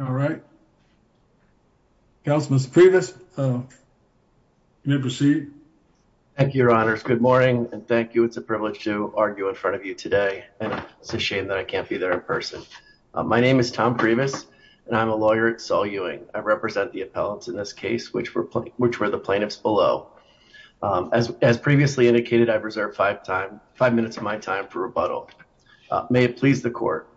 All right. Councilman Priebus, you may proceed. Thank you, Your Honors. Good morning. And thank you. It's a privilege to argue in front of you today. And it's a shame that I can't be there in person. My name is Tom Priebus and I'm a lawyer at Saul Ewing. I represent the appellants in this case, which were the plaintiffs below. As previously indicated, I've reserved five minutes of my time for rebuttal. May it please the court.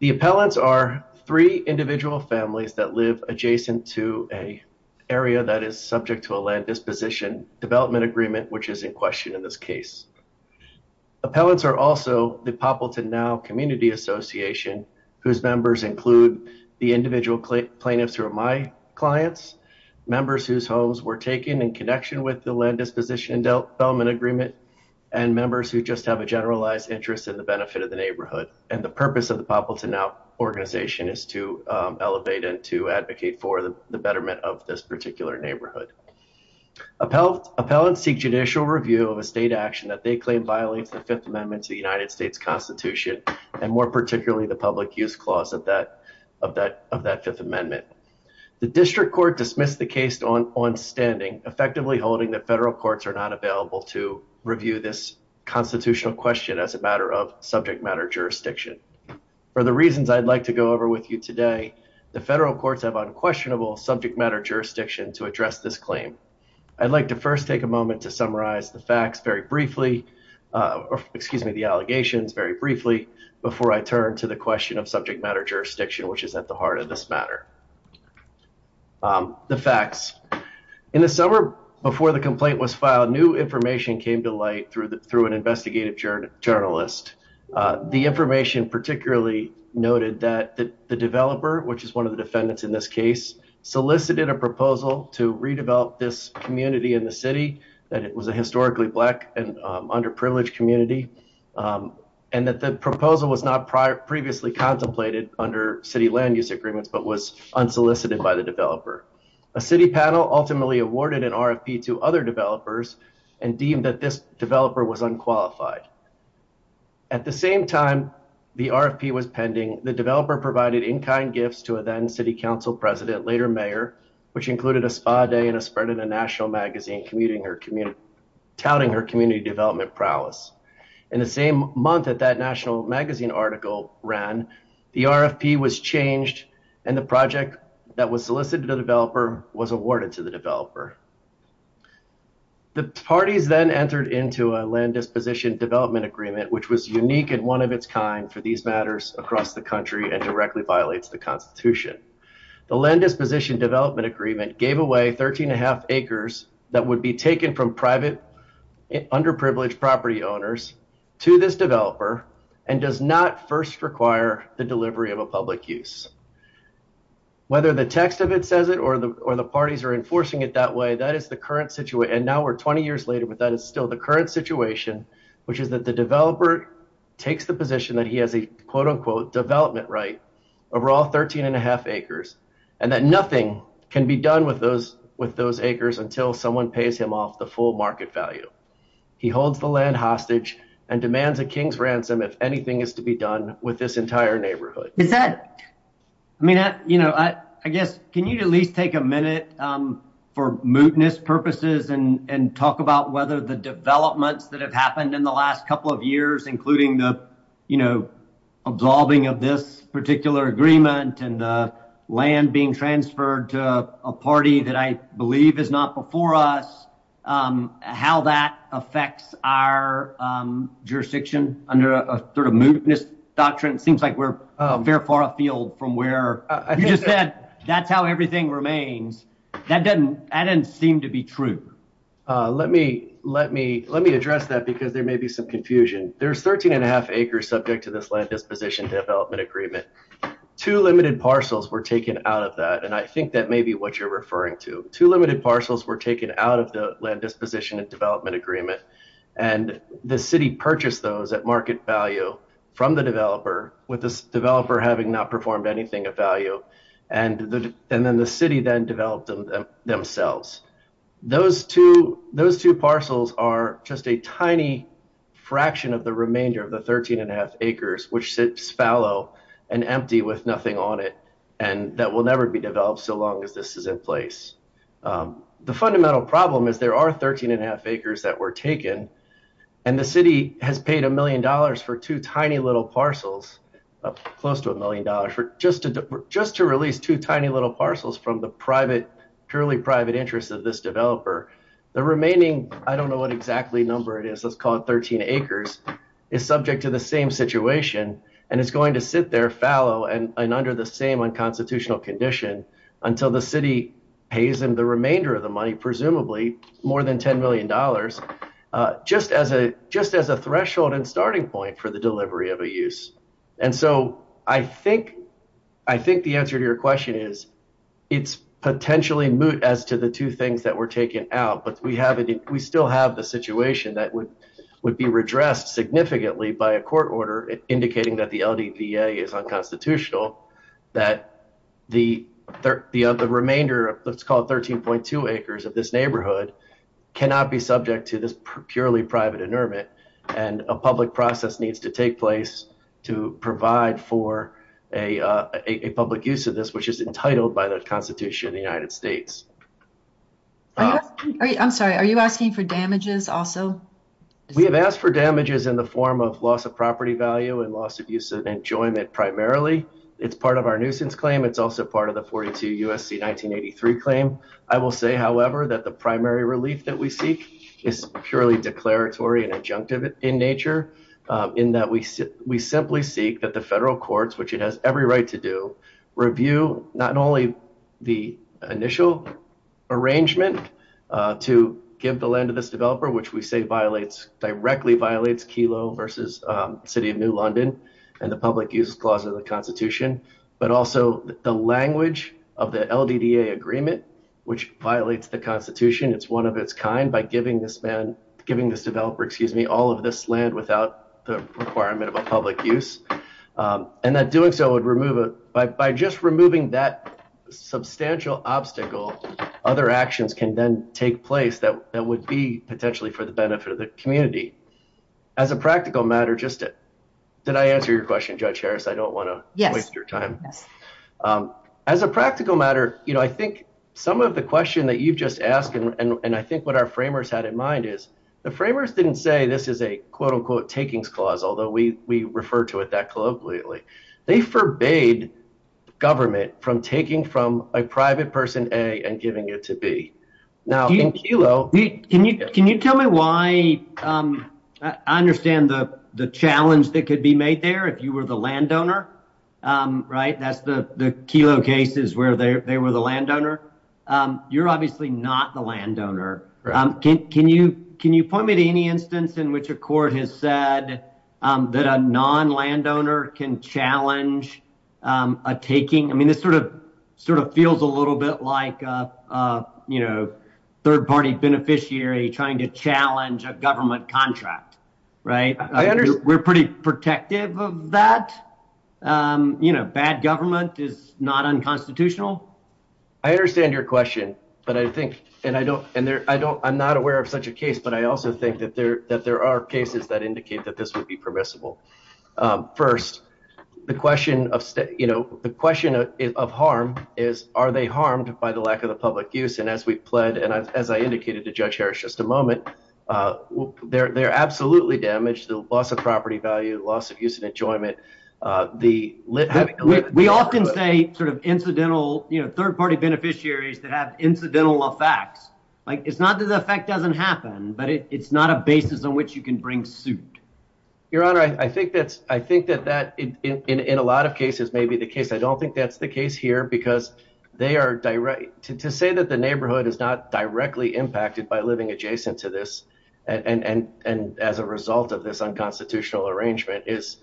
The appellants are three individual families that live adjacent to an area that is subject to a land disposition development agreement, which is in question in this case. Appellants are also the Poppleton Now Community Association, whose members include the individual plaintiffs who are my clients, members whose homes were taken in connection with the land disposition and development agreement, and members who just have a generalized interest in the benefit of the neighborhood. And the purpose of the Poppleton Now organization is to elevate and to advocate for the betterment of this particular neighborhood. Appellants seek judicial review of a state action that they claim violates the Fifth Amendment to the United States Constitution, and more particularly the Public Use Clause of that Fifth Amendment. The District Court dismissed the case on standing, effectively holding that federal courts are not available to review this constitutional question as a matter of subject matter jurisdiction. For the reasons I'd like to go over with you today, the federal courts have unquestionable subject matter jurisdiction to address this claim. I'd like to first take a moment to summarize the facts very briefly, excuse me, the allegations very briefly, before I turn to the question of subject matter jurisdiction, which is at the heart of this matter. The facts. In the summer before the complaint was filed, new information came to light through an investigative journalist. The information particularly noted that the developer, which is one of the defendants in this case, solicited a proposal to redevelop this community in the city, that it was a historically Black and underprivileged community, and that the proposal was not previously contemplated under city land use agreements, but was unsolicited by the developer. A city panel ultimately awarded an RFP to other developers and deemed that this developer was unqualified. At the same time the RFP was pending, the developer provided in-kind gifts to a then city council president, later mayor, which included a spa day and a spread in a national magazine commuting her community, touting her community development prowess. In the same month that that national magazine article ran, the RFP was changed and the project that was solicited to the developer was awarded to the developer. The parties then entered into a land disposition development agreement, which was unique and one of its kind for these matters across the country and directly violates the constitution. The land disposition development agreement gave away 13 1⁄2 acres that would be taken from private underprivileged property owners to this developer and does not first require the delivery of a public use. Whether the text of it says it or the parties are enforcing it that way, that is the current situation and now we're 20 years later, but that is still the current situation, which is that the developer takes the position that he has a quote-unquote development right over all 13 1⁄2 acres and that nothing can be done with those acres until someone pays him off the full market value. He holds the land hostage and demands a king's ransom if anything is to be done with this entire neighborhood. Is that? I mean, you know, I guess can you at least take a minute for mootness purposes and talk about whether the developments that have happened in the last couple of years, including the, you know, absolving of this particular agreement and land being transferred to a party that I believe is not before us, how that affects our jurisdiction under a sort of mootness doctrine. It seems like we're very far afield from where I just said, that's how everything remains. That doesn't, I didn't seem to be true. Let me, let me, let me address that because there may be some confusion. There's 13 1⁄2 acres subject to this land disposition development agreement. Two limited parcels were taken out of that. And I think that may be what you're referring to. Two limited parcels were taken out of the land disposition and development agreement and the city purchased those at market value from the developer, with this developer having not performed anything of value. And then the city then developed them themselves. Those two, those two parcels are just a tiny fraction of the remainder of the 13 1⁄2 acres, which sits fallow and empty with nothing on it. And that will never be developed so long as this is in place. The fundamental problem is there are 13 1⁄2 acres that were taken and the city has paid a million dollars for two tiny little parcels, close to a million dollars, just to release two tiny little parcels from the private, purely private interest of this developer. The remaining, I don't know what exactly number it is, let's call it 13 acres, is subject to the same situation. And it's going to sit there fallow and under the same unconstitutional condition until the city pays them the remainder of the money, presumably more than $10 million. Just as a, just as a threshold and starting point for the delivery of a use. And so I think, I think the answer to your question is it's potentially moot as to the two things that were taken out, but we haven't, we still have the situation that would be redressed significantly by a court order indicating that the LDVA is unconstitutional, that the remainder of, let's call it 13.2 acres of this neighborhood, cannot be subject to this purely private inurement and a public process needs to take place to provide for a public use of this, which is entitled by the Constitution of the United States. I'm sorry. Are you asking for damages also? We have asked for damages in the form of loss of property value and loss of use of enjoyment primarily. It's part of our nuisance claim. It's also part of the 42 USC 1983 claim. I will say, however, that the primary relief that we seek is purely declaratory and adjunctive in nature in that we simply seek that the federal courts, which it has every right to do, review not only the initial arrangement to give the land to this developer, which we say violates, directly violates Kelo versus City of New London and the public uses clause of the Constitution, but also the language of the LDVA agreement, which violates the Constitution. It's one of its kind by giving this man, giving this developer, excuse me, all of this land without the requirement of a public use and that doing so would remove it by just removing that substantial obstacle. Other actions can then take place that that would be potentially for the benefit of the community. As a practical matter, just did I answer your question, Judge Harris? I don't want to waste your time. As a practical matter, you know, I think some of the question that you've just asked and I think what our framers had in mind is the framers didn't say this is a quote-unquote takings clause, although we refer to it that colloquially. They forbade government from taking from a private person A and giving it to B. Can you tell me why I understand the challenge that could be made there if you were the landowner, right? That's the Kelo cases where they were the landowner. You're obviously not the landowner. Can you point me to any instance in which a court has said that a non-landowner can challenge a taking? I mean, this sort of feels a little bit like, you know, third-party beneficiary trying to challenge a government contract, right? We're pretty protective of that. You know, bad government is not unconstitutional. I understand your question, but I think and I'm not aware of such a case, but I also think that there are cases that indicate that this would be permissible. First, the question of, you know, the question of harm is, are they harmed by the lack of the public use? And as we pled, and as I indicated to Judge Harris just a moment, they're absolutely damaged, the loss of property value, loss of use and enjoyment. We often say sort of incidental, you know, third-party beneficiaries that have incidental effects. Like, it's not that the effect doesn't happen, but it's not a basis on which you can bring suit. Your Honor, I think that's, I think that that in a lot of cases may be the case. I don't think that's the case here because they are direct, to say that the neighborhood is not directly impacted by living adjacent to this and as a result of this unconstitutional arrangement is,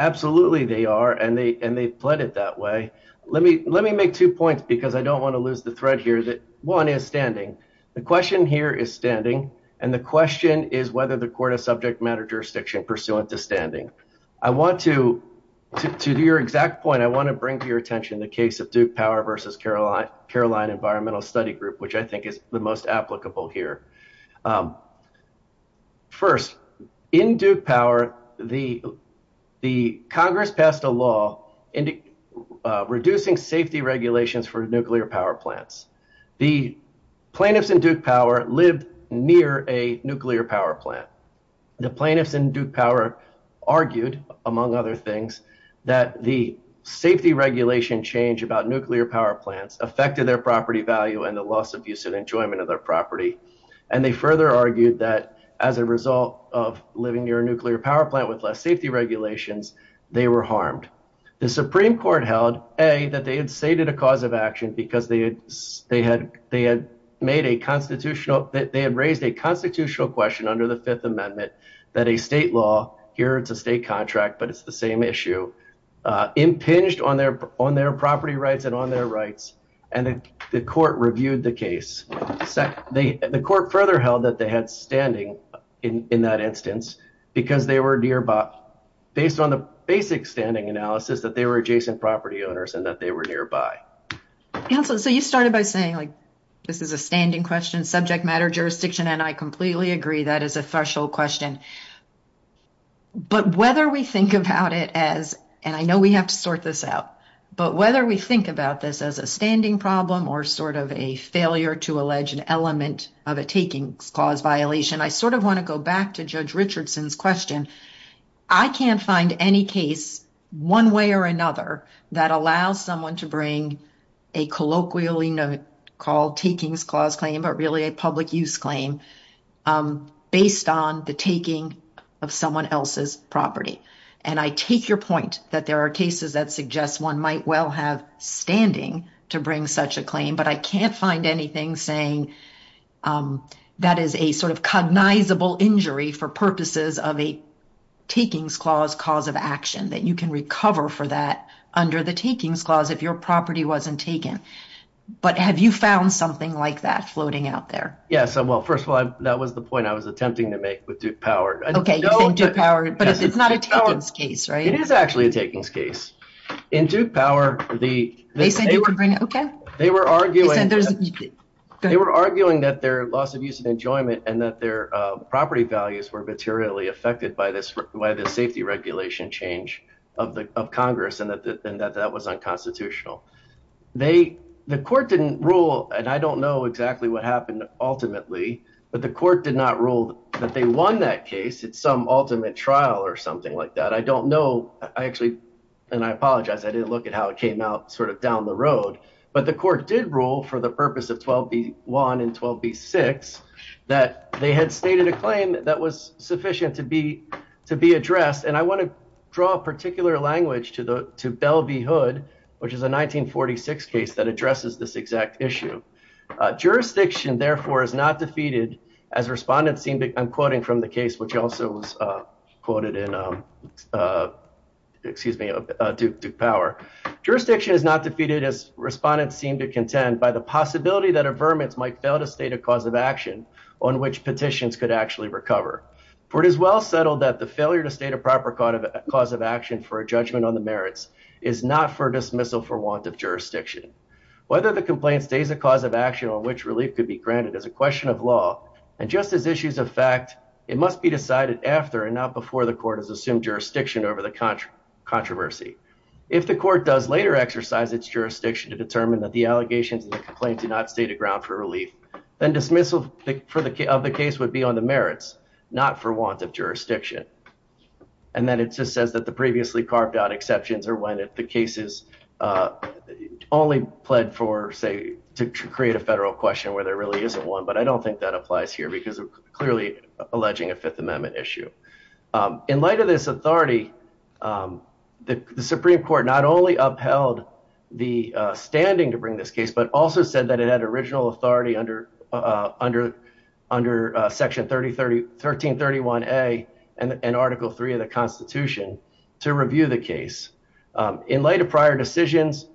absolutely they are and they pled it that way. Let me make two points because I don't want to lose the thread here, that one is standing. The question here is standing and the question is whether the subject matter jurisdiction pursuant to standing. I want to, to your exact point, I want to bring to your attention the case of Duke Power versus Caroline Environmental Study Group, which I think is the most applicable here. First, in Duke Power, the Congress passed a law reducing safety regulations for nuclear power plants. The plaintiffs in Duke Power lived near a nuclear power plant. The plaintiffs in Duke Power argued, among other things, that the safety regulation change about nuclear power plants affected their property value and the loss of use and enjoyment of their property. And they further argued that as a result of living near a nuclear power plant with less safety regulations, they were harmed. The Supreme Court held, A, that they had stated a cause of action because they had made a constitutional, they had raised a constitutional question under the Fifth Amendment that a state law, here it's a state contract, but it's the same issue, impinged on their property rights and on their rights, and the court reviewed the case. The court further held that they had standing in that instance because they were nearby, based on the basic standing analysis, that they were adjacent property owners and that they were nearby. Counsel, so you started by saying like, this is a standing question, subject matter, jurisdiction, and I completely agree that is a threshold question. But whether we think about it as, and I know we have to sort this out, but whether we think about this as a standing problem or sort of a failure to allege an element of a takings clause violation, I sort of want to go back to Judge Richardson's question. I can't find any case, one way or another, that allows someone to bring a colloquially called takings clause claim, but really a public use claim, based on the taking of someone else's property. And I take your point that there are cases that suggest one might well have standing to bring such a claim, but I can't find anything saying that is a sort of cognizable injury for purposes of a takings clause cause of action, that you can recover for that under the takings clause if your property wasn't taken. But have you found something like that floating out there? Well, first of all, that was the point I was attempting to make with Duke Power. Okay, Duke Power, but it's not a takings case, right? It is actually a takings case. In Duke Power, they were arguing that their loss of use of enjoyment and that their property values were materially affected by the safety regulation change of Congress, and that that was unconstitutional. They, the court didn't rule, and I don't know exactly what happened ultimately, but the court did not rule that they won that case. It's some ultimate trial or something like that. I don't know. I actually, and I apologize. I didn't look at how it came out sort of down the road, but the court did rule for the purpose of 12B1 and 12B6 that they had stated a claim that was sufficient to be addressed. And I want to draw a particular language to Bell v Hood, which is a 1946 case that addresses this exact issue. Jurisdiction, therefore, is not defeated as respondents seem to, I'm quoting from the case, which also was quoted in, excuse me, Duke Power. Jurisdiction is not defeated as respondents seem to contend by the possibility that a vermin might fail to state a cause of action on which petitions could actually recover. For it is well settled that the failure to state a proper cause of action for a judgment on the merits is not for dismissal for want of jurisdiction. Whether the complaint stays a cause of action on which relief could be granted as a question of law and just as issues of fact, it must be decided after and not before the court has assumed jurisdiction over the controversy. If the court does later exercise its jurisdiction to determine that the allegations of the complaint do not state a ground for relief, then dismissal of the case would be on the merits, not for want of jurisdiction. And then it just says that the previously carved out exceptions are when the cases only pled for, say, to create a federal question where there really isn't one. But I don't think that applies here because we're clearly alleging a Fifth Amendment issue. In light of this authority, the Supreme Court not only upheld the standing to bring this case, but also said that it had original authority under Section 1331A and Article 3 of the Constitution to review the case. In light of prior decisions,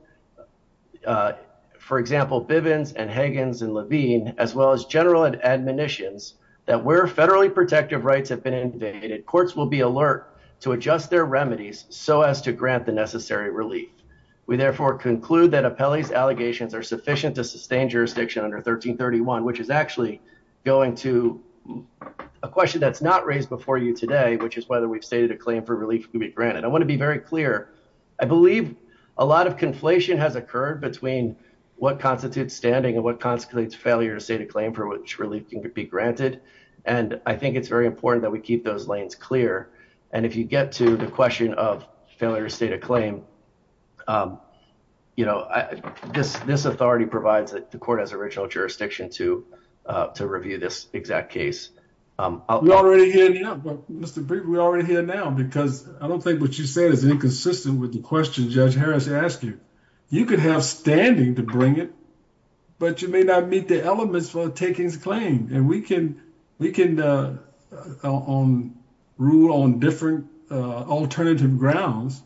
for example, Bivens and Higgins and Levine, as well as general and admonitions that where federally protective rights have been invaded, courts will be alert to adjust their remedies so as to grant the necessary relief. We therefore conclude that Apelli's allegations are sufficient to sustain jurisdiction under 1331, which is actually going to a question that's not raised before you today, which is whether we've stated a claim for relief to be granted. I want to be very clear. I believe a lot of conflation has occurred between what constitutes standing and what constitutes failure to state a claim for which relief can be granted. And I think it's very important that we keep those lanes clear. And if you get to the question of failure to state a claim, you know, this authority provides that the court has original jurisdiction to review this exact case. We're already here now, because I don't think what you said is inconsistent with the question Judge Harris asked you. You could have standing to bring it, but you may not meet the elements for taking the claim. And we can rule on different alternative grounds.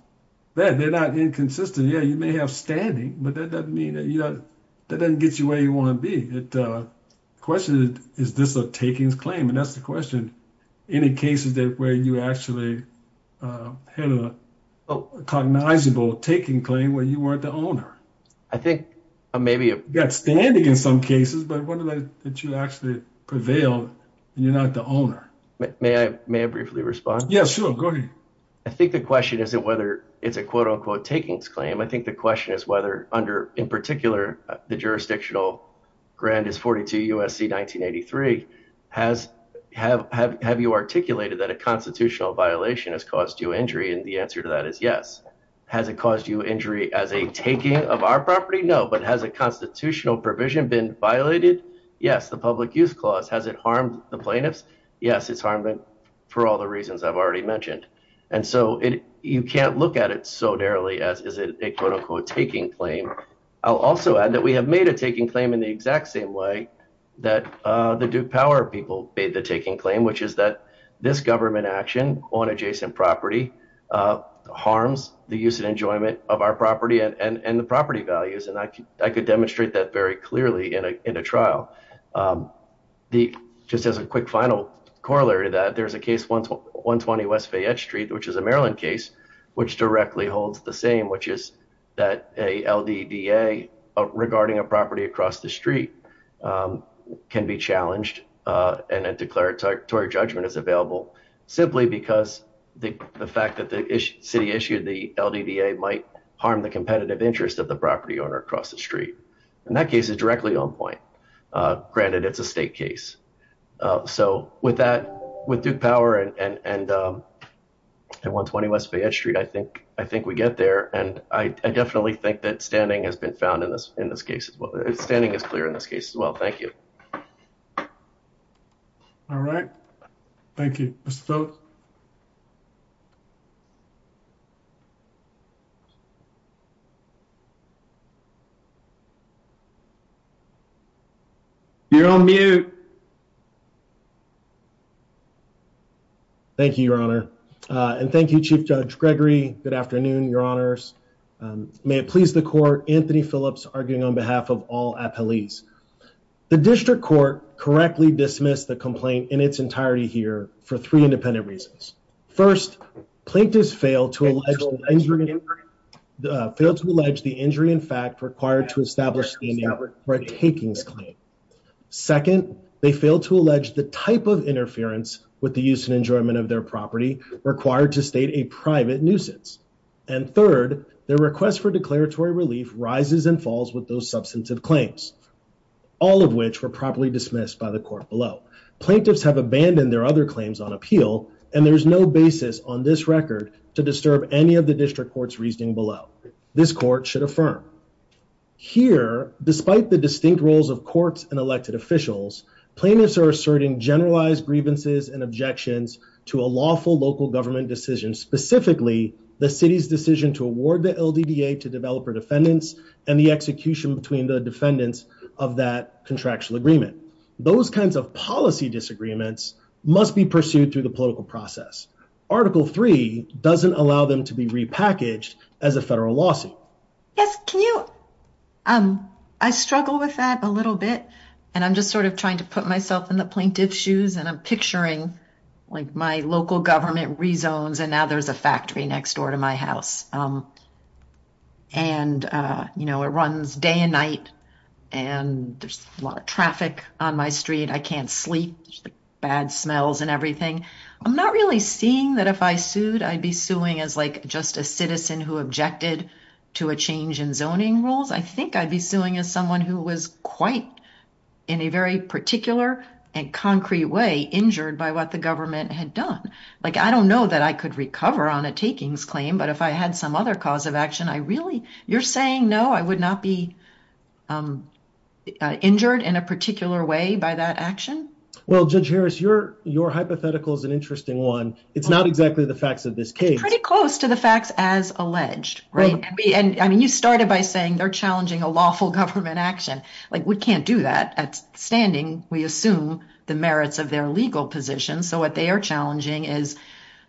They're not inconsistent. Yeah, you may have standing, but that doesn't mean that you know, that doesn't get you where you want to be. The question is, is this a takings claim? And that's the question. Any cases that where you actually had a cognizable taking claim where you weren't the owner? I think maybe you got standing in some cases, but one of those that you actually prevailed and you're not the owner. May I briefly respond? Yeah, sure. Go ahead. I think the question isn't whether it's a quote-unquote takings claim. I think the question is whether under, in particular, the jurisdictional grant is 42 USC 1983. Have you articulated that a constitutional violation has caused you injury? And the answer to that is yes. Has it caused you injury as a taking of our property? No, but has a constitutional provision been violated? Yes, the Public Use Clause. Has it harmed the plaintiffs? Yes, it's harmed them for all the reasons I've already mentioned. And so, you can't look at it so narrowly as is it a quote-unquote taking claim. I'll also add that we have made a taking claim in the exact same way that the Duke Power people made the taking claim, which is that this government action on adjacent property harms the use and enjoyment of our property and the property values. And I could demonstrate that very clearly in a trial. Just as a quick final corollary to that, there's a case 120 West Fayette Street, which is a Maryland case, which directly holds the same, which is that a LDBA regarding a property across the street can be challenged and a declaratory judgment is available simply because the fact that the city issued the LDBA might harm the competitive interest of the property owner across the street. And that case is directly on point. Granted, it's a state case. So with that, with Duke Power and 120 West Fayette Street, I think we get there. And I definitely think that standing has been found in this case as well. Standing is clear in this case as well. Thank you. All right. Thank you. You're on mute. Thank you, Your Honor. And thank you, Chief Judge Gregory. Good afternoon, Your Honors. May it please the court, Anthony Phillips arguing on behalf of all appellees. The district court correctly dismissed the complaint in its entirety here for three independent reasons. First, plaintiffs failed to allege the injury in fact required to establish standing for a takings claim. Second, they failed to allege the type of interference with the use and enjoyment of their property required to state a private nuisance. And third, their request for declaratory relief rises and falls with those substantive claims, all of which were properly dismissed by the court below. Plaintiffs have abandoned their other claims on appeal, and there's no basis on this record to disturb any of the district court's reasoning below. This court should affirm. Here, despite the distinct roles of courts and elected officials, plaintiffs are asserting generalized grievances and objections to a lawful local government decision, specifically the city's decision to award the LDBA to developer defendants and the execution between the defendants of that contractual agreement. Those kinds of policy disagreements must be pursued through the political process. Article 3 doesn't allow them to be repackaged as a federal lawsuit. Yes, can you? I struggle with that a little bit and I'm just sort of trying to put myself in the plaintiff's shoes and I'm picturing like my local government rezones and now there's a factory next door to my house. And you know, it runs day and night and there's a lot of traffic on my street. I can't sleep, bad smells and everything. I'm not really seeing that if I sued, I'd be suing as like just a citizen who objected to a change in zoning rules. I think I'd be suing as someone who was quite, in a very particular and concrete way, injured by what the government had done. Like, I don't know that I could recover on a takings claim, but if I had some other cause of action, I really, you're saying no, I would not be injured in a particular way by that action? Well, Judge Harris, your hypothetical is an interesting one. It's not exactly the facts of this case. It's pretty close to the facts as alleged, right? And I mean, you started by saying they're challenging a lawful government action. Like, we can't do that. At standing, we assume the merits of their legal position. So what they are challenging is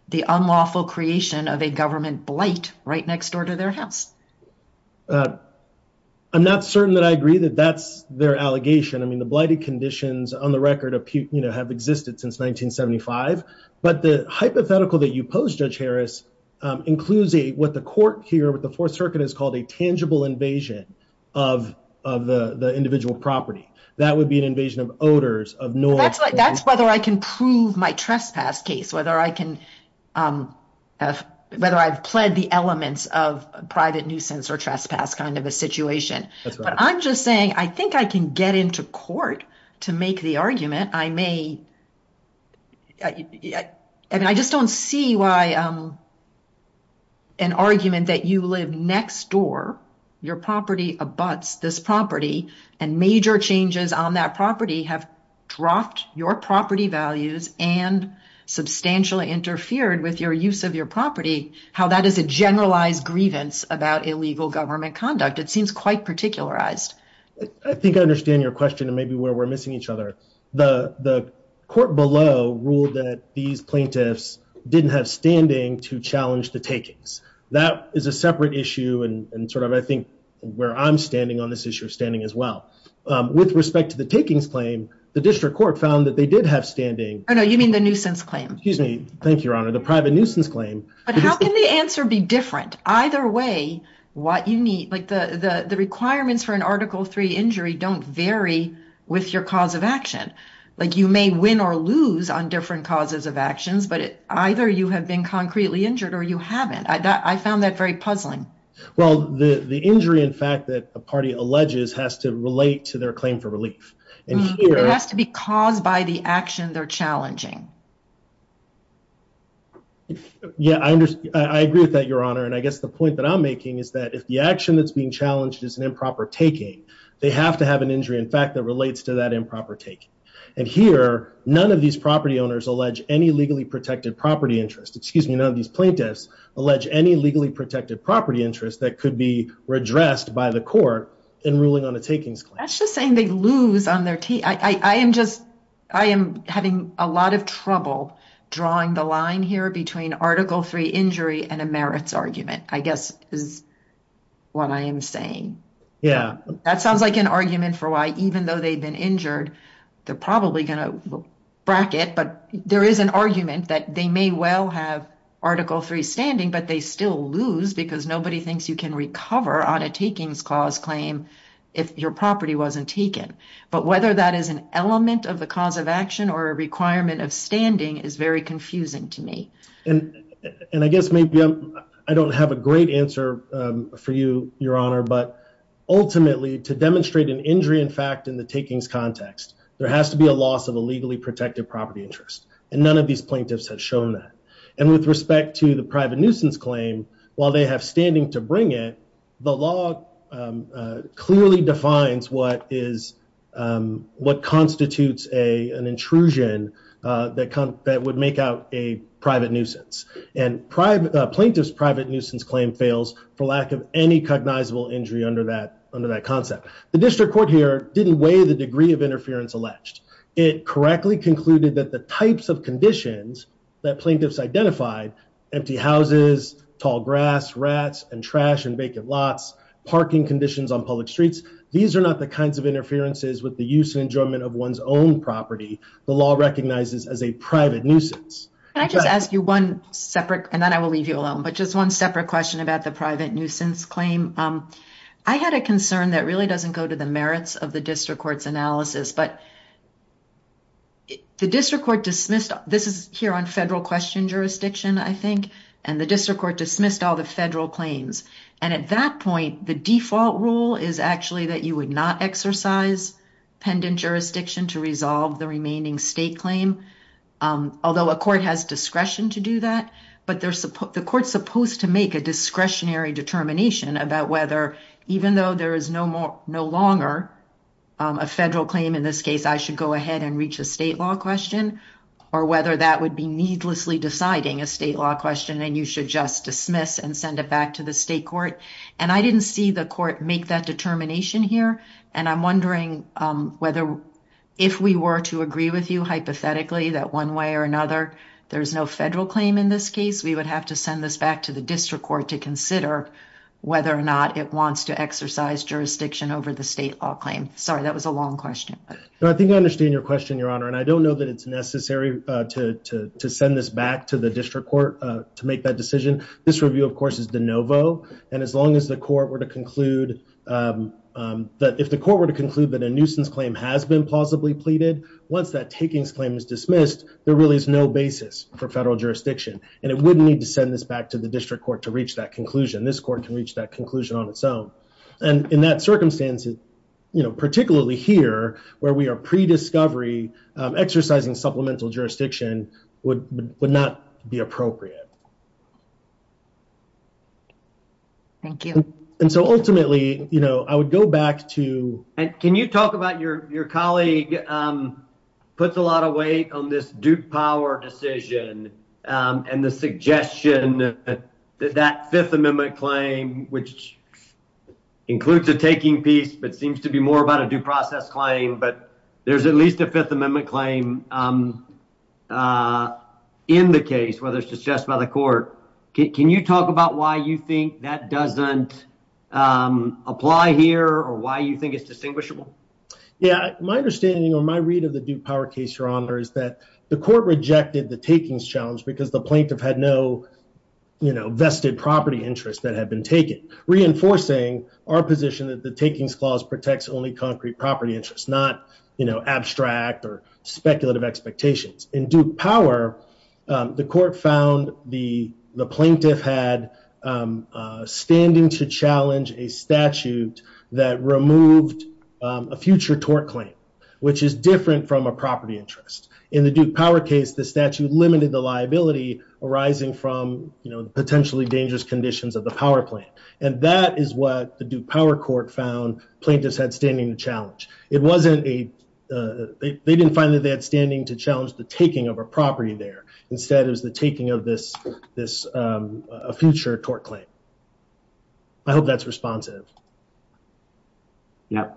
the unlawful creation of a government blight right next door to their house. I'm not certain that I agree that that's their allegation. I mean, the blighted conditions on the record have existed since 1975. But the hypothetical that you pose, Judge Harris, includes what the court here, what the Fourth Circuit has called a tangible invasion of the individual property. That would be an invasion of odors, of noise. That's whether I can prove my trespass case, whether I can, whether I've pled the elements of private nuisance or trespass kind of a situation. But I'm just saying, I think I can get into court to make the argument. I may. I mean, I just don't see why an argument that you live next door, your property abuts this property, and major changes on that property have dropped your property values and substantially interfered with your use of your property, how that is a generalized grievance about illegal government conduct. It seems quite particularized. I think I understand your question and maybe where we're missing each other. The court below ruled that these plaintiffs didn't have standing to challenge the takings. That is a separate issue and sort of I think where I'm standing on this issue of standing as well. With respect to the takings claim, the district court found that they did have standing. Oh no, you mean the nuisance claim. Excuse me. Thank you, Your Honor. The private nuisance claim. But how can the answer be different? Either way, what you need, like the requirements for an article three injury don't vary with your cause of action. Like you may win or lose on different causes of actions, but it either you have been concretely injured or you haven't. I found that very puzzling. Well, the injury in fact that a party alleges has to relate to their claim for relief. It has to be caused by the action they're challenging. Yeah, I agree with that, Your Honor. And I guess the point that I'm making is that if the action that's being challenged is an improper taking, they have to have an injury in fact that relates to that improper taking. And here, none of these property owners allege any legally protected property interest. Excuse me, none of these plaintiffs allege any legally protected property interest that could be redressed by the court in ruling on a takings claim. That's just saying they lose on their team. I am having a lot of trouble drawing the line here between article three injury and a merits argument. I guess is what I am saying. Yeah, that sounds like an argument for why even though they've been injured, they're probably going to bracket, but there is an argument that they may well have article three standing, but they still lose because nobody thinks you can recover on a takings clause claim if your property wasn't taken. But whether that is an element of the cause of action or a requirement of standing is very confusing to me. And I guess maybe I don't have a great answer for you, your honor, but ultimately to demonstrate an injury in fact in the takings context, there has to be a loss of a legally protected property interest and none of these plaintiffs have shown that. And with respect to the private nuisance claim, while they have standing to bring it, the law clearly defines what constitutes an intrusion that would make out a private nuisance. And plaintiff's private nuisance claim fails for lack of any cognizable injury under that concept. The district court here didn't weigh the degree of interference alleged. It correctly concluded that the types of conditions that plaintiffs identified empty houses, tall grass, rats, and trash and vacant lots, parking conditions on public streets. These are not the kinds of interferences with the use and enjoyment of one's own property. The law recognizes as a private nuisance. Can I just ask you one separate, and then I will leave you alone, but just one separate question about the private nuisance claim. I had a concern that really doesn't go to the merits of the district court's analysis, but the district court dismissed, this is here on federal question jurisdiction, I think, and the district court dismissed all the federal claims. And at that point, the default rule is actually that you would not exercise pendant jurisdiction to resolve the remaining state claim, although a court has discretion to do that. But the court's supposed to make a discretionary determination about whether, even though there is no longer a federal claim in this case, I should go ahead and reach a state law question, or whether that would be needlessly deciding a state law question and you should just dismiss and send it back to the state court. And I didn't see the court make that determination here. And I'm wondering whether, if we were to agree with you, hypothetically, that one way or another, there's no federal claim in this case, we would have to send this back to the district court to consider whether or not it wants to exercise jurisdiction over the state law claim. Sorry, that was a long question. I think I understand your question, Your Honor. And I don't know that it's necessary to send this back to the district court to make that decision. This review, of course, is de novo. And as long as the court were to conclude that if the court were to conclude that a nuisance claim has been plausibly pleaded, once that takings claim is dismissed, there really is no basis for federal jurisdiction. And it wouldn't need to send this back to the district court to reach that conclusion. This court can reach that conclusion on its own. And in that circumstance, you know, particularly here where we are prediscovery, exercising supplemental jurisdiction would not be appropriate. Thank you. And so ultimately, you know, I would go back to. And can you talk about your colleague puts a lot of weight on this duke power decision and the suggestion that that Fifth Amendment claim, which includes a taking piece, but seems to be more about a due process claim. But there's at least a Fifth Amendment claim in the case, whether it's just by the court. Can you talk about why you think that doesn't apply here or why you think it's distinguishable? Yeah, my understanding or my read of the Duke power case, your honor, is that the court rejected the takings challenge because the plaintiff had no, you know, vested property interest that had been taken, reinforcing our position that the takings clause protects only concrete property interest, not, you know, abstract or speculative expectations in Duke power. The court found the the plaintiff had standing to challenge a statute that removed a future tort claim, which is different from a property interest. In the Duke power case, the statute limited the liability arising from, you know, potentially dangerous conditions of the power plant. And that is what the Duke power court found. Plaintiffs had standing to challenge. It wasn't a they didn't find that they had standing to challenge the taking of a property there. Instead, it was the taking of this, this future tort claim. I hope that's responsive. Yeah.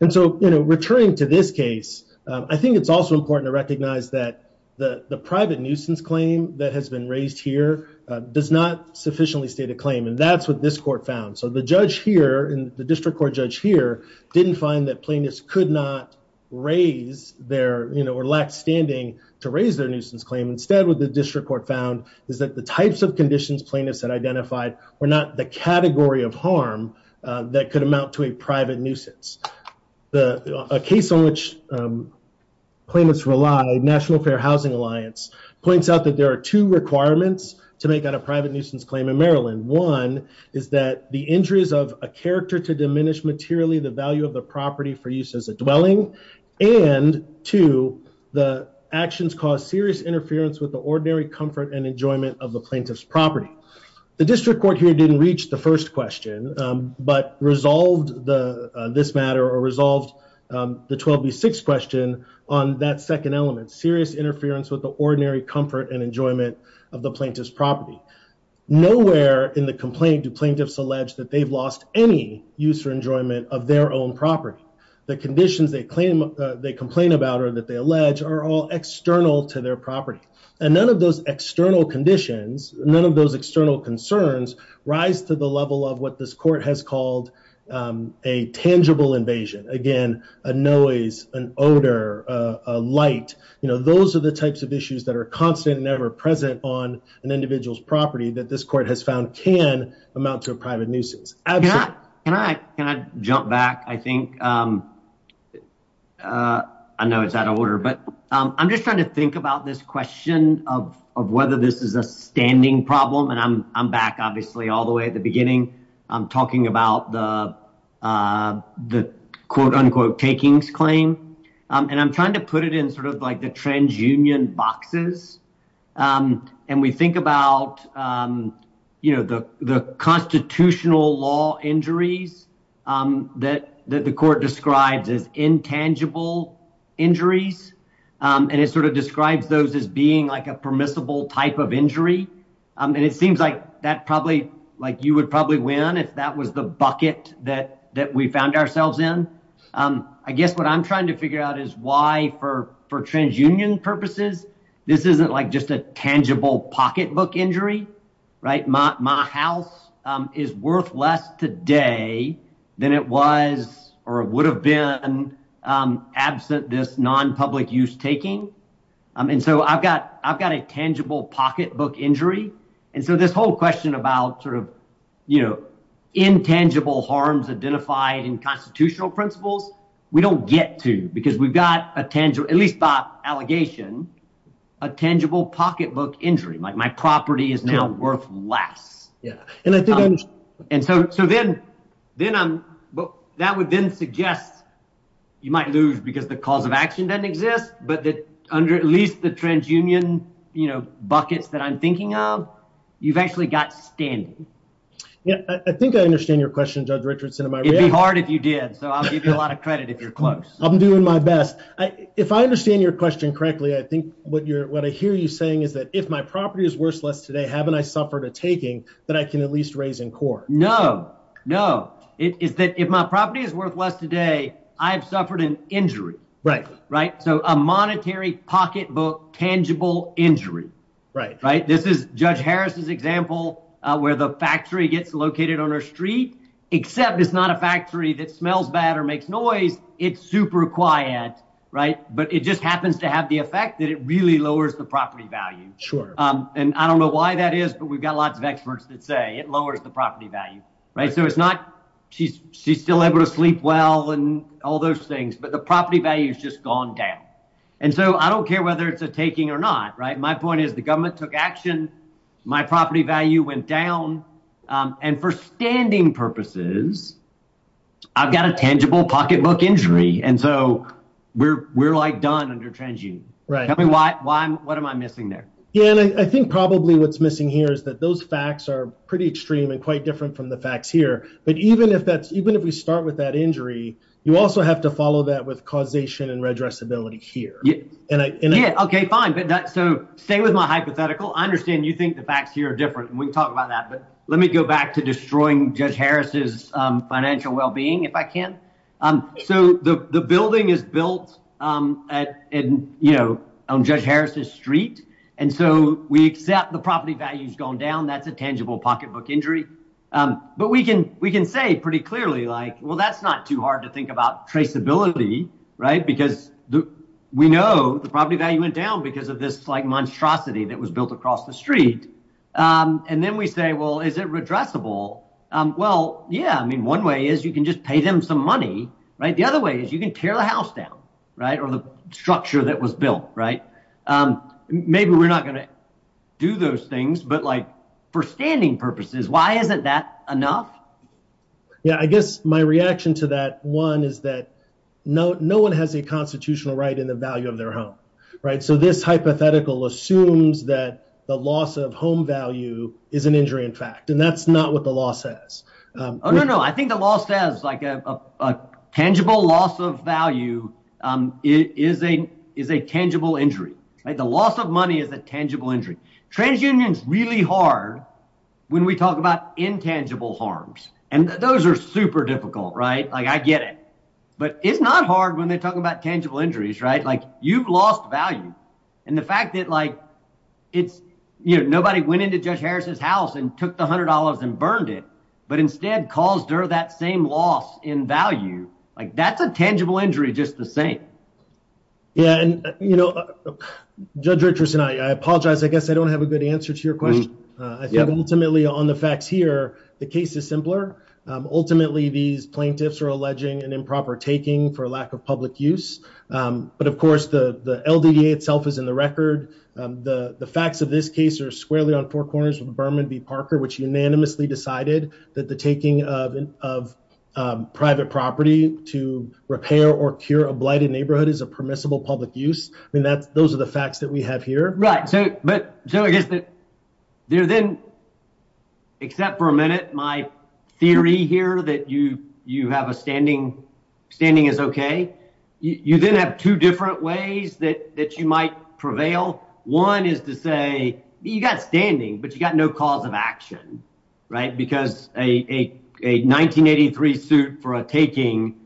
And so, you know, returning to this case, I think it's also important to recognize that the private nuisance claim that has been raised here does not sufficiently state a claim. And that's what this court found. So the judge here in the district court judge here didn't find that plaintiffs could not raise their, you know, or lack standing to raise their nuisance claim. Instead, what the district court found is that the types of conditions plaintiffs had identified were not the category of harm that could amount to a private nuisance. The case on which plaintiffs relied, National Fair Housing Alliance, points out that there are two requirements to make out a private nuisance claim in Maryland. One is that the injuries of a character to diminish materially the value of the property for use as a dwelling. And two, the actions cause serious interference with the ordinary comfort and enjoyment of the plaintiff's property. The district court here didn't reach the first question, but resolved the, this matter or resolved the 12B6 question on that second element, serious interference with the ordinary comfort and enjoyment of the plaintiff's property. Nowhere in the complaint do plaintiffs allege that they've lost any use or enjoyment of their own property. The conditions they claim, they are external to their property. And none of those external conditions, none of those external concerns rise to the level of what this court has called a tangible invasion. Again, a noise, an odor, a light, you know, those are the types of issues that are constant and ever present on an individual's property that this court has found can amount to a private nuisance. Can I jump back? I think, I know it's out of order, but I'm just trying to think about this question of whether this is a standing problem. And I'm back, obviously, all the way at the beginning. I'm talking about the, the quote unquote takings claim. And I'm trying to put it in sort of like the transunion boxes. And we think about, you know, the constitutional law injuries that the court describes as intangible injuries. And it sort of describes those as being like a permissible type of injury. And it seems like that probably, like you would probably win if that was the bucket that, that we found ourselves in. I guess what I'm trying to figure out is why for transunion purposes, this isn't like just a tangible pocketbook injury, right? My house is worth less today than it was or would have been absent this non-public use taking. And so I've got, I've got a tangible pocketbook injury. And so this whole question about sort of, you know, intangible harms identified in constitutional principles, we don't get to because we've got a tangible, at least by allegation, a tangible pocketbook injury. Like my property is now worth less. Yeah. And so, so then, then I'm, that would then suggest you might lose because the cause of action doesn't exist, but that under at least the transunion, you know, buckets that I'm thinking of, you've actually got standing. Yeah. I think I understand your question, Judge Richardson. It'd be hard if you did. So I'll give you a lot of credit if you're close. I'm doing my best. I, if I understand your question correctly, I think what you're, what I hear you saying is that if my property is worth less today, haven't I suffered a taking that I can at least raise in court? No, no. It is that if my property is worth less today, I've suffered an injury, right? Right. So a monetary pocketbook, tangible injury, right? Right. This is Judge Harris's example where the factory gets located on her street, except it's not a factory that smells bad or makes noise. It's super quiet, right? But it just happens to have the effect that it really lowers the property value. Sure. And I don't know why that is, but we've got lots of experts that say it lowers the property value. Right. So it's not she's she's still able to sleep well and all those things. But the property value has just gone down. And so I don't care whether it's a taking or not. Right. My point is, the government took action. My property value went down. And for standing purposes, I've got a tangible pocketbook injury. And so we're we're like done under TransUnion. Right. I mean, why? Why? What am I missing there? Yeah. And I think probably what's missing here is that those facts are pretty extreme and quite different from the facts here. But even if that's even if we start with that injury, you also have to follow that with causation and redress ability here. Yeah. And yeah. OK, fine. But so stay with my hypothetical. I understand you think the facts here are different. We talk about that. But let me go back to destroying Judge Harris's financial well-being if I can. So the building is built at and, you know, on Judge Harris's street. And so we accept the property values going down. That's a tangible pocketbook injury. But we can we can say pretty clearly, like, well, that's not too hard to think about traceability. Right. Because we know the property value went down because of this like monstrosity that was built across the street. And then we say, well, is it redressable? Well, yeah. I mean, one way is you can just pay them some money. Right. The other way is you can tear the house down. Right. Or the structure that was built. Right. Maybe we're not going to do those things, but like for standing purposes. Why isn't that enough? Yeah, I guess my reaction to that one is that no one has a constitutional right in the value of their home. Right. So this hypothetical assumes that the loss of home value is an injury, in fact. And that's not what the law says. Oh, no, no. I think the law says like a tangible loss of value is a is a tangible injury. The loss of money is a tangible injury. Transunion is really hard when we talk about intangible harms. And those are super difficult. Right. Like I get it. But it's not hard when they're talking about tangible injuries. Right. Like you've lost value. And the fact that like it's you know, nobody went into Judge Harris's house and took the hundred dollars and burned it, but instead caused her that same loss in value. Like that's a tangible injury. Just the right. Yeah. And, you know, Judge Richardson, I apologize. I guess I don't have a good answer to your question. I think ultimately on the facts here, the case is simpler. Ultimately, these plaintiffs are alleging an improper taking for lack of public use. But of course, the LDA itself is in the record. The facts of this case are squarely on four corners with Berman v. Parker, which unanimously decided that the taking of private property to repair or cure a blighted neighborhood is a permissible public use. I mean, that's those are the facts that we have here. Right. So but so I guess that there then. Except for a minute, my theory here that you you have a standing standing is OK. You didn't have two different ways that that you might prevail. One is to say you got standing but you got no cause of action. Right. Because a 1983 suit for a taking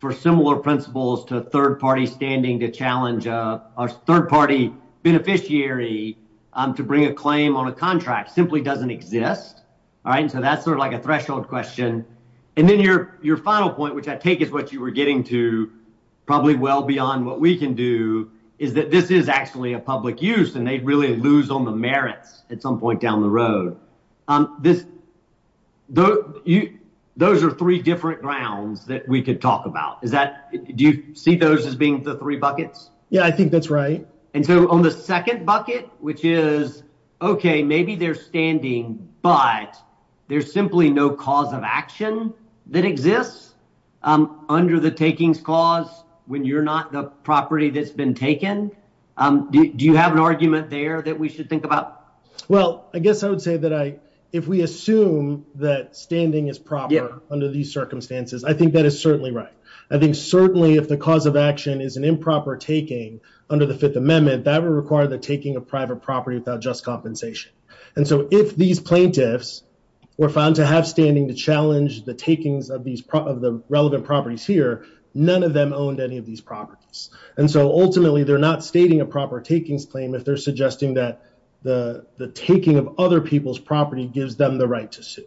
for similar principles to a third party standing to challenge a third party beneficiary to bring a claim on a contract simply doesn't exist. All right. So that's sort of like a threshold question. And then your your final point, which I take is what you were getting to probably well beyond what we can do, is that this is actually a public use and they really lose on the merits at some point down the road. This though you those are three different grounds that we could talk about. Is that do you see those as being the three buckets? Yeah, I think that's right. And so on the second bucket, which is OK, maybe they're standing, but there's simply no cause of action that exists under the takings clause when you're not the property that's been taken. Do you have an argument there that we should think about? Well, I guess I would say that I if we assume that standing is proper under these circumstances, I think that is certainly right. I think certainly if the cause of action is an improper taking under the Fifth Amendment that would require the taking of private property without just compensation. And so if these plaintiffs were found to have standing to challenge the takings of these of the relevant properties here, none of them owned any of these properties. And so ultimately they're not stating a proper takings claim if they're suggesting that the the taking of other people's property gives them the right to sue.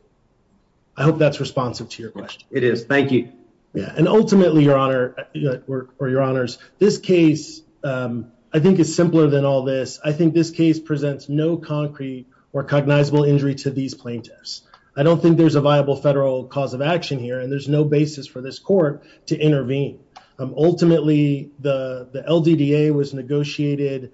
I hope that's responsive to your question. It is. Thank you. Yeah. And ultimately, your honor or your honors, this case, I think, is simpler than all this. I think this case presents no concrete or cognizable injury to these plaintiffs. I don't think there's a viable federal cause of action here, and there's no basis for this court to intervene. Ultimately, the L.D.D.A. was negotiated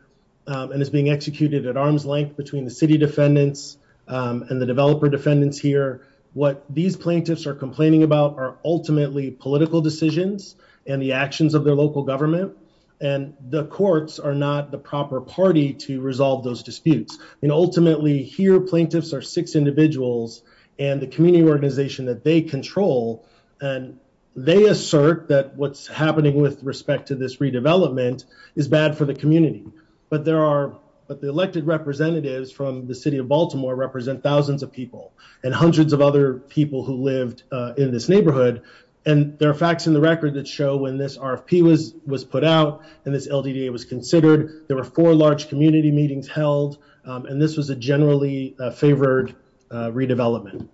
and is being executed at arm's length between the city defendants and the developer defendants here. What these plaintiffs are complaining about are ultimately political decisions and the actions of their local government. And the courts are not the proper party to resolve those disputes. And ultimately here, plaintiffs are six individuals and the community organization that they control. And they assert that what's happening with respect to this redevelopment is bad for the community. But there are but the elected representatives from the city of Baltimore represent thousands of people and hundreds of other people who lived in this neighborhood. And there are facts in the record that show when this RFP was was put out and this L.D.D.A. was considered, there were four large community meetings held, and this was a generally favored redevelopment.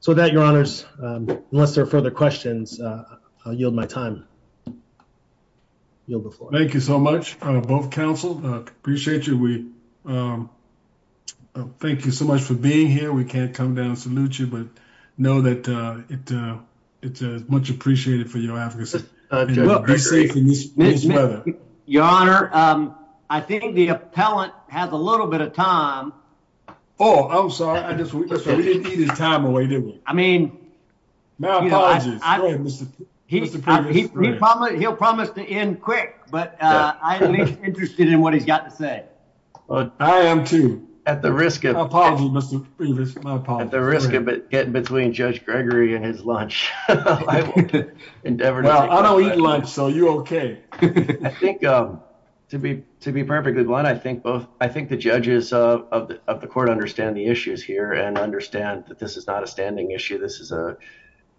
So that, your honors, unless there are further questions, I'll yield my time. Thank you so much, both counsel. Appreciate you. We thank you so much for being here. We can't come down and salute you, but know that it's much appreciated for your advocacy. Your honor, I think the appellant has a little bit of time. Oh, I'm sorry. We didn't need his time away, did we? I mean, he'll promise to end quick, but I'm interested in what he's got to say. I am too. At the risk of getting between Judge Gregory and his lunch. I don't eat lunch, so you're okay. I think to be perfectly blunt, I think the judges of the court understand the issues here and understand that this is not a standing issue. This is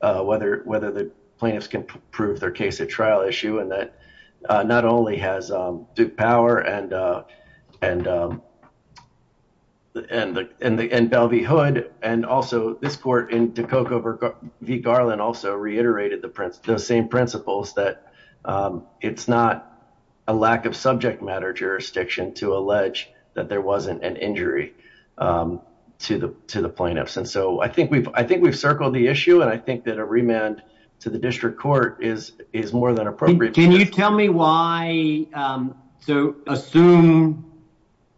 whether the plaintiffs can prove their case a trial issue and that not only has Duke Power and Belle v. Hood and also this court in Dukoko v. Garland also reiterated the same principles that it's not a lack of subject matter jurisdiction to allege that there wasn't an injury to the plaintiffs. And so I think we've circled the issue and I think that a remand to the district court is more than appropriate. Can you tell me why? So assume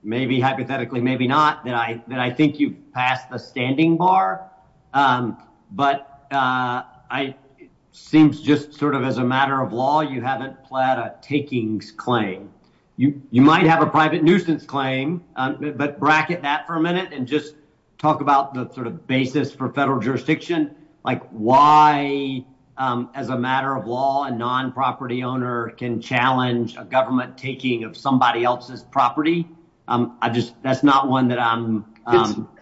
maybe hypothetically, maybe not that I think you passed the standing bar, but it seems just sort of as a matter of law, you haven't pled a takings claim. You might have a private nuisance claim, but bracket that for a minute and just talk about the sort of basis for federal jurisdiction, like why as a matter of law, a non-property owner can challenge a government taking of somebody else's property. I just that's not one that I'm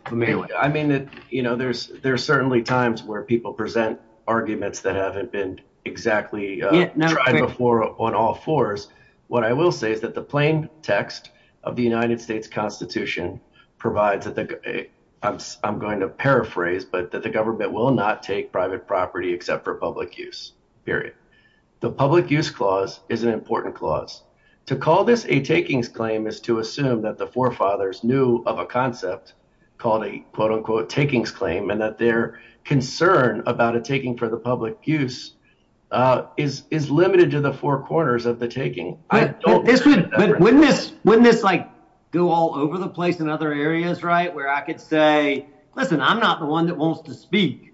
familiar with. I mean that, you know, there's there's certainly times where people present arguments that haven't been exactly tried before on all fours. What I will say is that the plain text of the United States Constitution provides that the, I'm going to paraphrase, but that the government will not take private property except for public use, period. The public use clause is an important clause. To call this a takings claim is to assume that the forefathers knew of a concept called a quote-unquote takings claim and that their concern about a taking for the public use is limited to the four corners of the taking. But wouldn't this like go all over the place in other areas, right? Where I could say, listen, I'm not the one that wants to speak,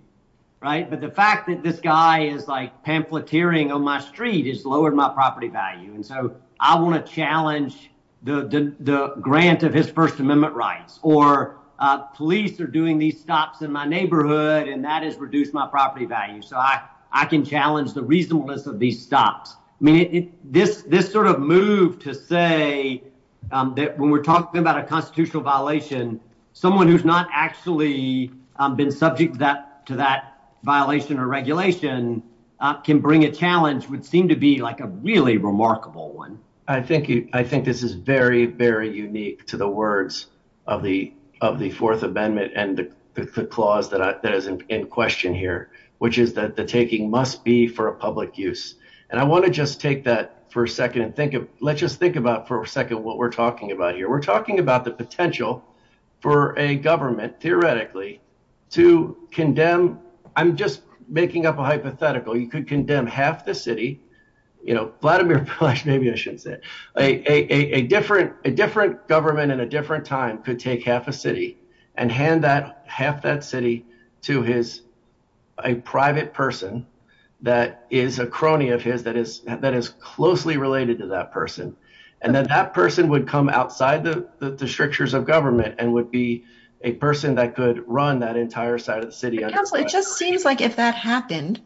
right? But the fact that this guy is like pamphleteering on my street has lowered my property value. And so I want to challenge the grant of his First Amendment rights or police are doing these stops in my neighborhood and that has reduced my property value. So I can challenge the reasonableness of these stops. I mean, this sort of move to say that when we're talking about a constitutional violation, someone who's not actually been subject to that violation or regulation can bring a challenge would seem to be like a really remarkable one. I think this is very, very unique to the words of the Fourth Amendment and the clause that is in question here, which is that the taking must be for a public use. And I want to just take that for a second and let's just think about for a second what we're talking about here. We're talking about the potential for a government theoretically to condemn. I'm just making up a hypothetical. You could condemn half the city, you know, Vladimir Putin, maybe I shouldn't say a different government in a different time could take half a city and hand that half that city to his a private person that is a crony of his that is that is closely related to that person. And then that person would come outside the strictures of government and would be a person that could run that entire side of the city. It just seems like if that happened,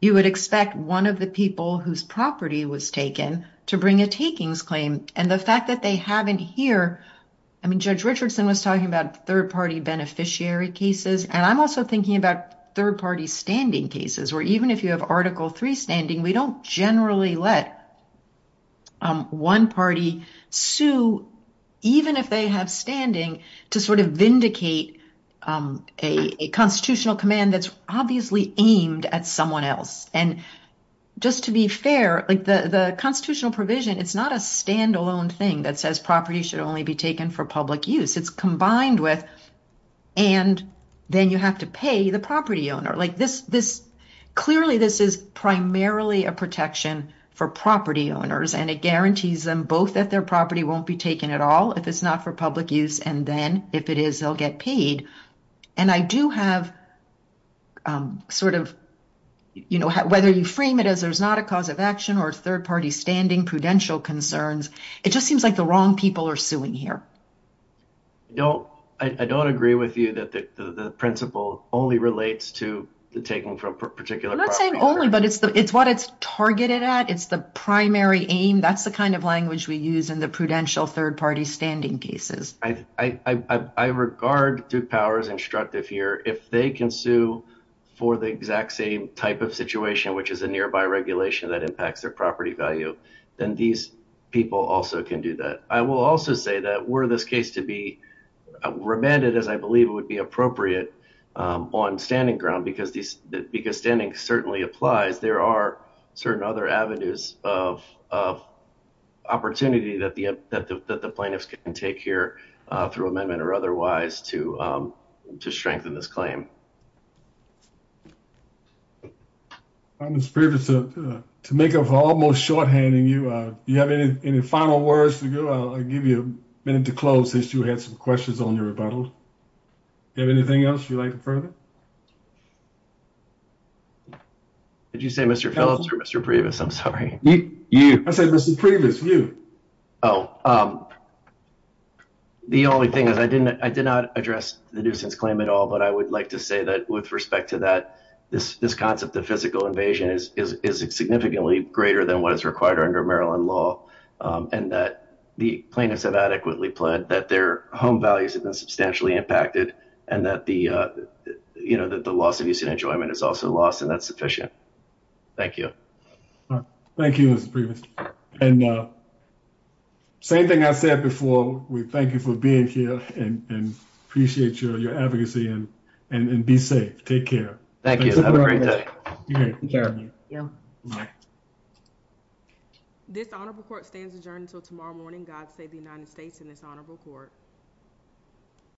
you would expect one of the people whose property was taken to bring a takings claim. And the fact that they haven't here. I mean, Judge Richardson was talking about third party beneficiary cases. And I'm also thinking about third party standing cases where even if you have article three standing, we don't generally let one party sue even if they have standing to sort of vindicate a constitutional command. That's obviously aimed at someone else. And just to be fair, like the constitutional provision. It's not a standalone thing that says property should only be taken for public use. It's combined with and then you have to pay the property owner like this this clearly this is primarily a protection for property owners and it guarantees them both that their property won't be taken at all. If it's not for public use. And then if it is they'll get paid. And I do have sort of, you know, whether you frame it as there's not a cause of action or third party standing prudential concerns. It just seems like the wrong people are suing here. No, I don't agree with you that the principle only relates to the taking from particular not saying only but it's the it's what it's targeted at. It's the primary aim. That's the kind of language we use in the prudential third party standing cases. I regard through powers instructive here if they can sue for the exact same type of situation, which is a nearby regulation that impacts their property value then these people also can do that. I will also say that were this case to be remanded as I believe it would be appropriate on standing ground because these because standing certainly applies there are certain other avenues of opportunity that the that the plaintiffs can take here through amendment or otherwise to to strengthen this claim. I'm just previous to make of almost shorthand and you you have any final words to go. I'll give you a minute to close this. You had some questions on your rebuttal. You have anything else you like further? Did you say Mr. Phillips or Mr. Previous? I'm sorry. You said this is previous view. Oh, the only thing is I didn't I did not address the nuisance claim at all. But I would like to say that with respect to that this this concept of physical invasion is significantly greater than what is required under Maryland law and that the plaintiffs have adequately pled that their home values have been substantially impacted and that the you know that the loss of use and enjoyment is also lost and that's sufficient. Thank you. Thank you, Mr. Previous and same thing I said before we thank you for being here and appreciate your advocacy and and be safe. Take care. Thank you. This honorable court stands adjourned until tomorrow morning. God save the United States in this honorable court.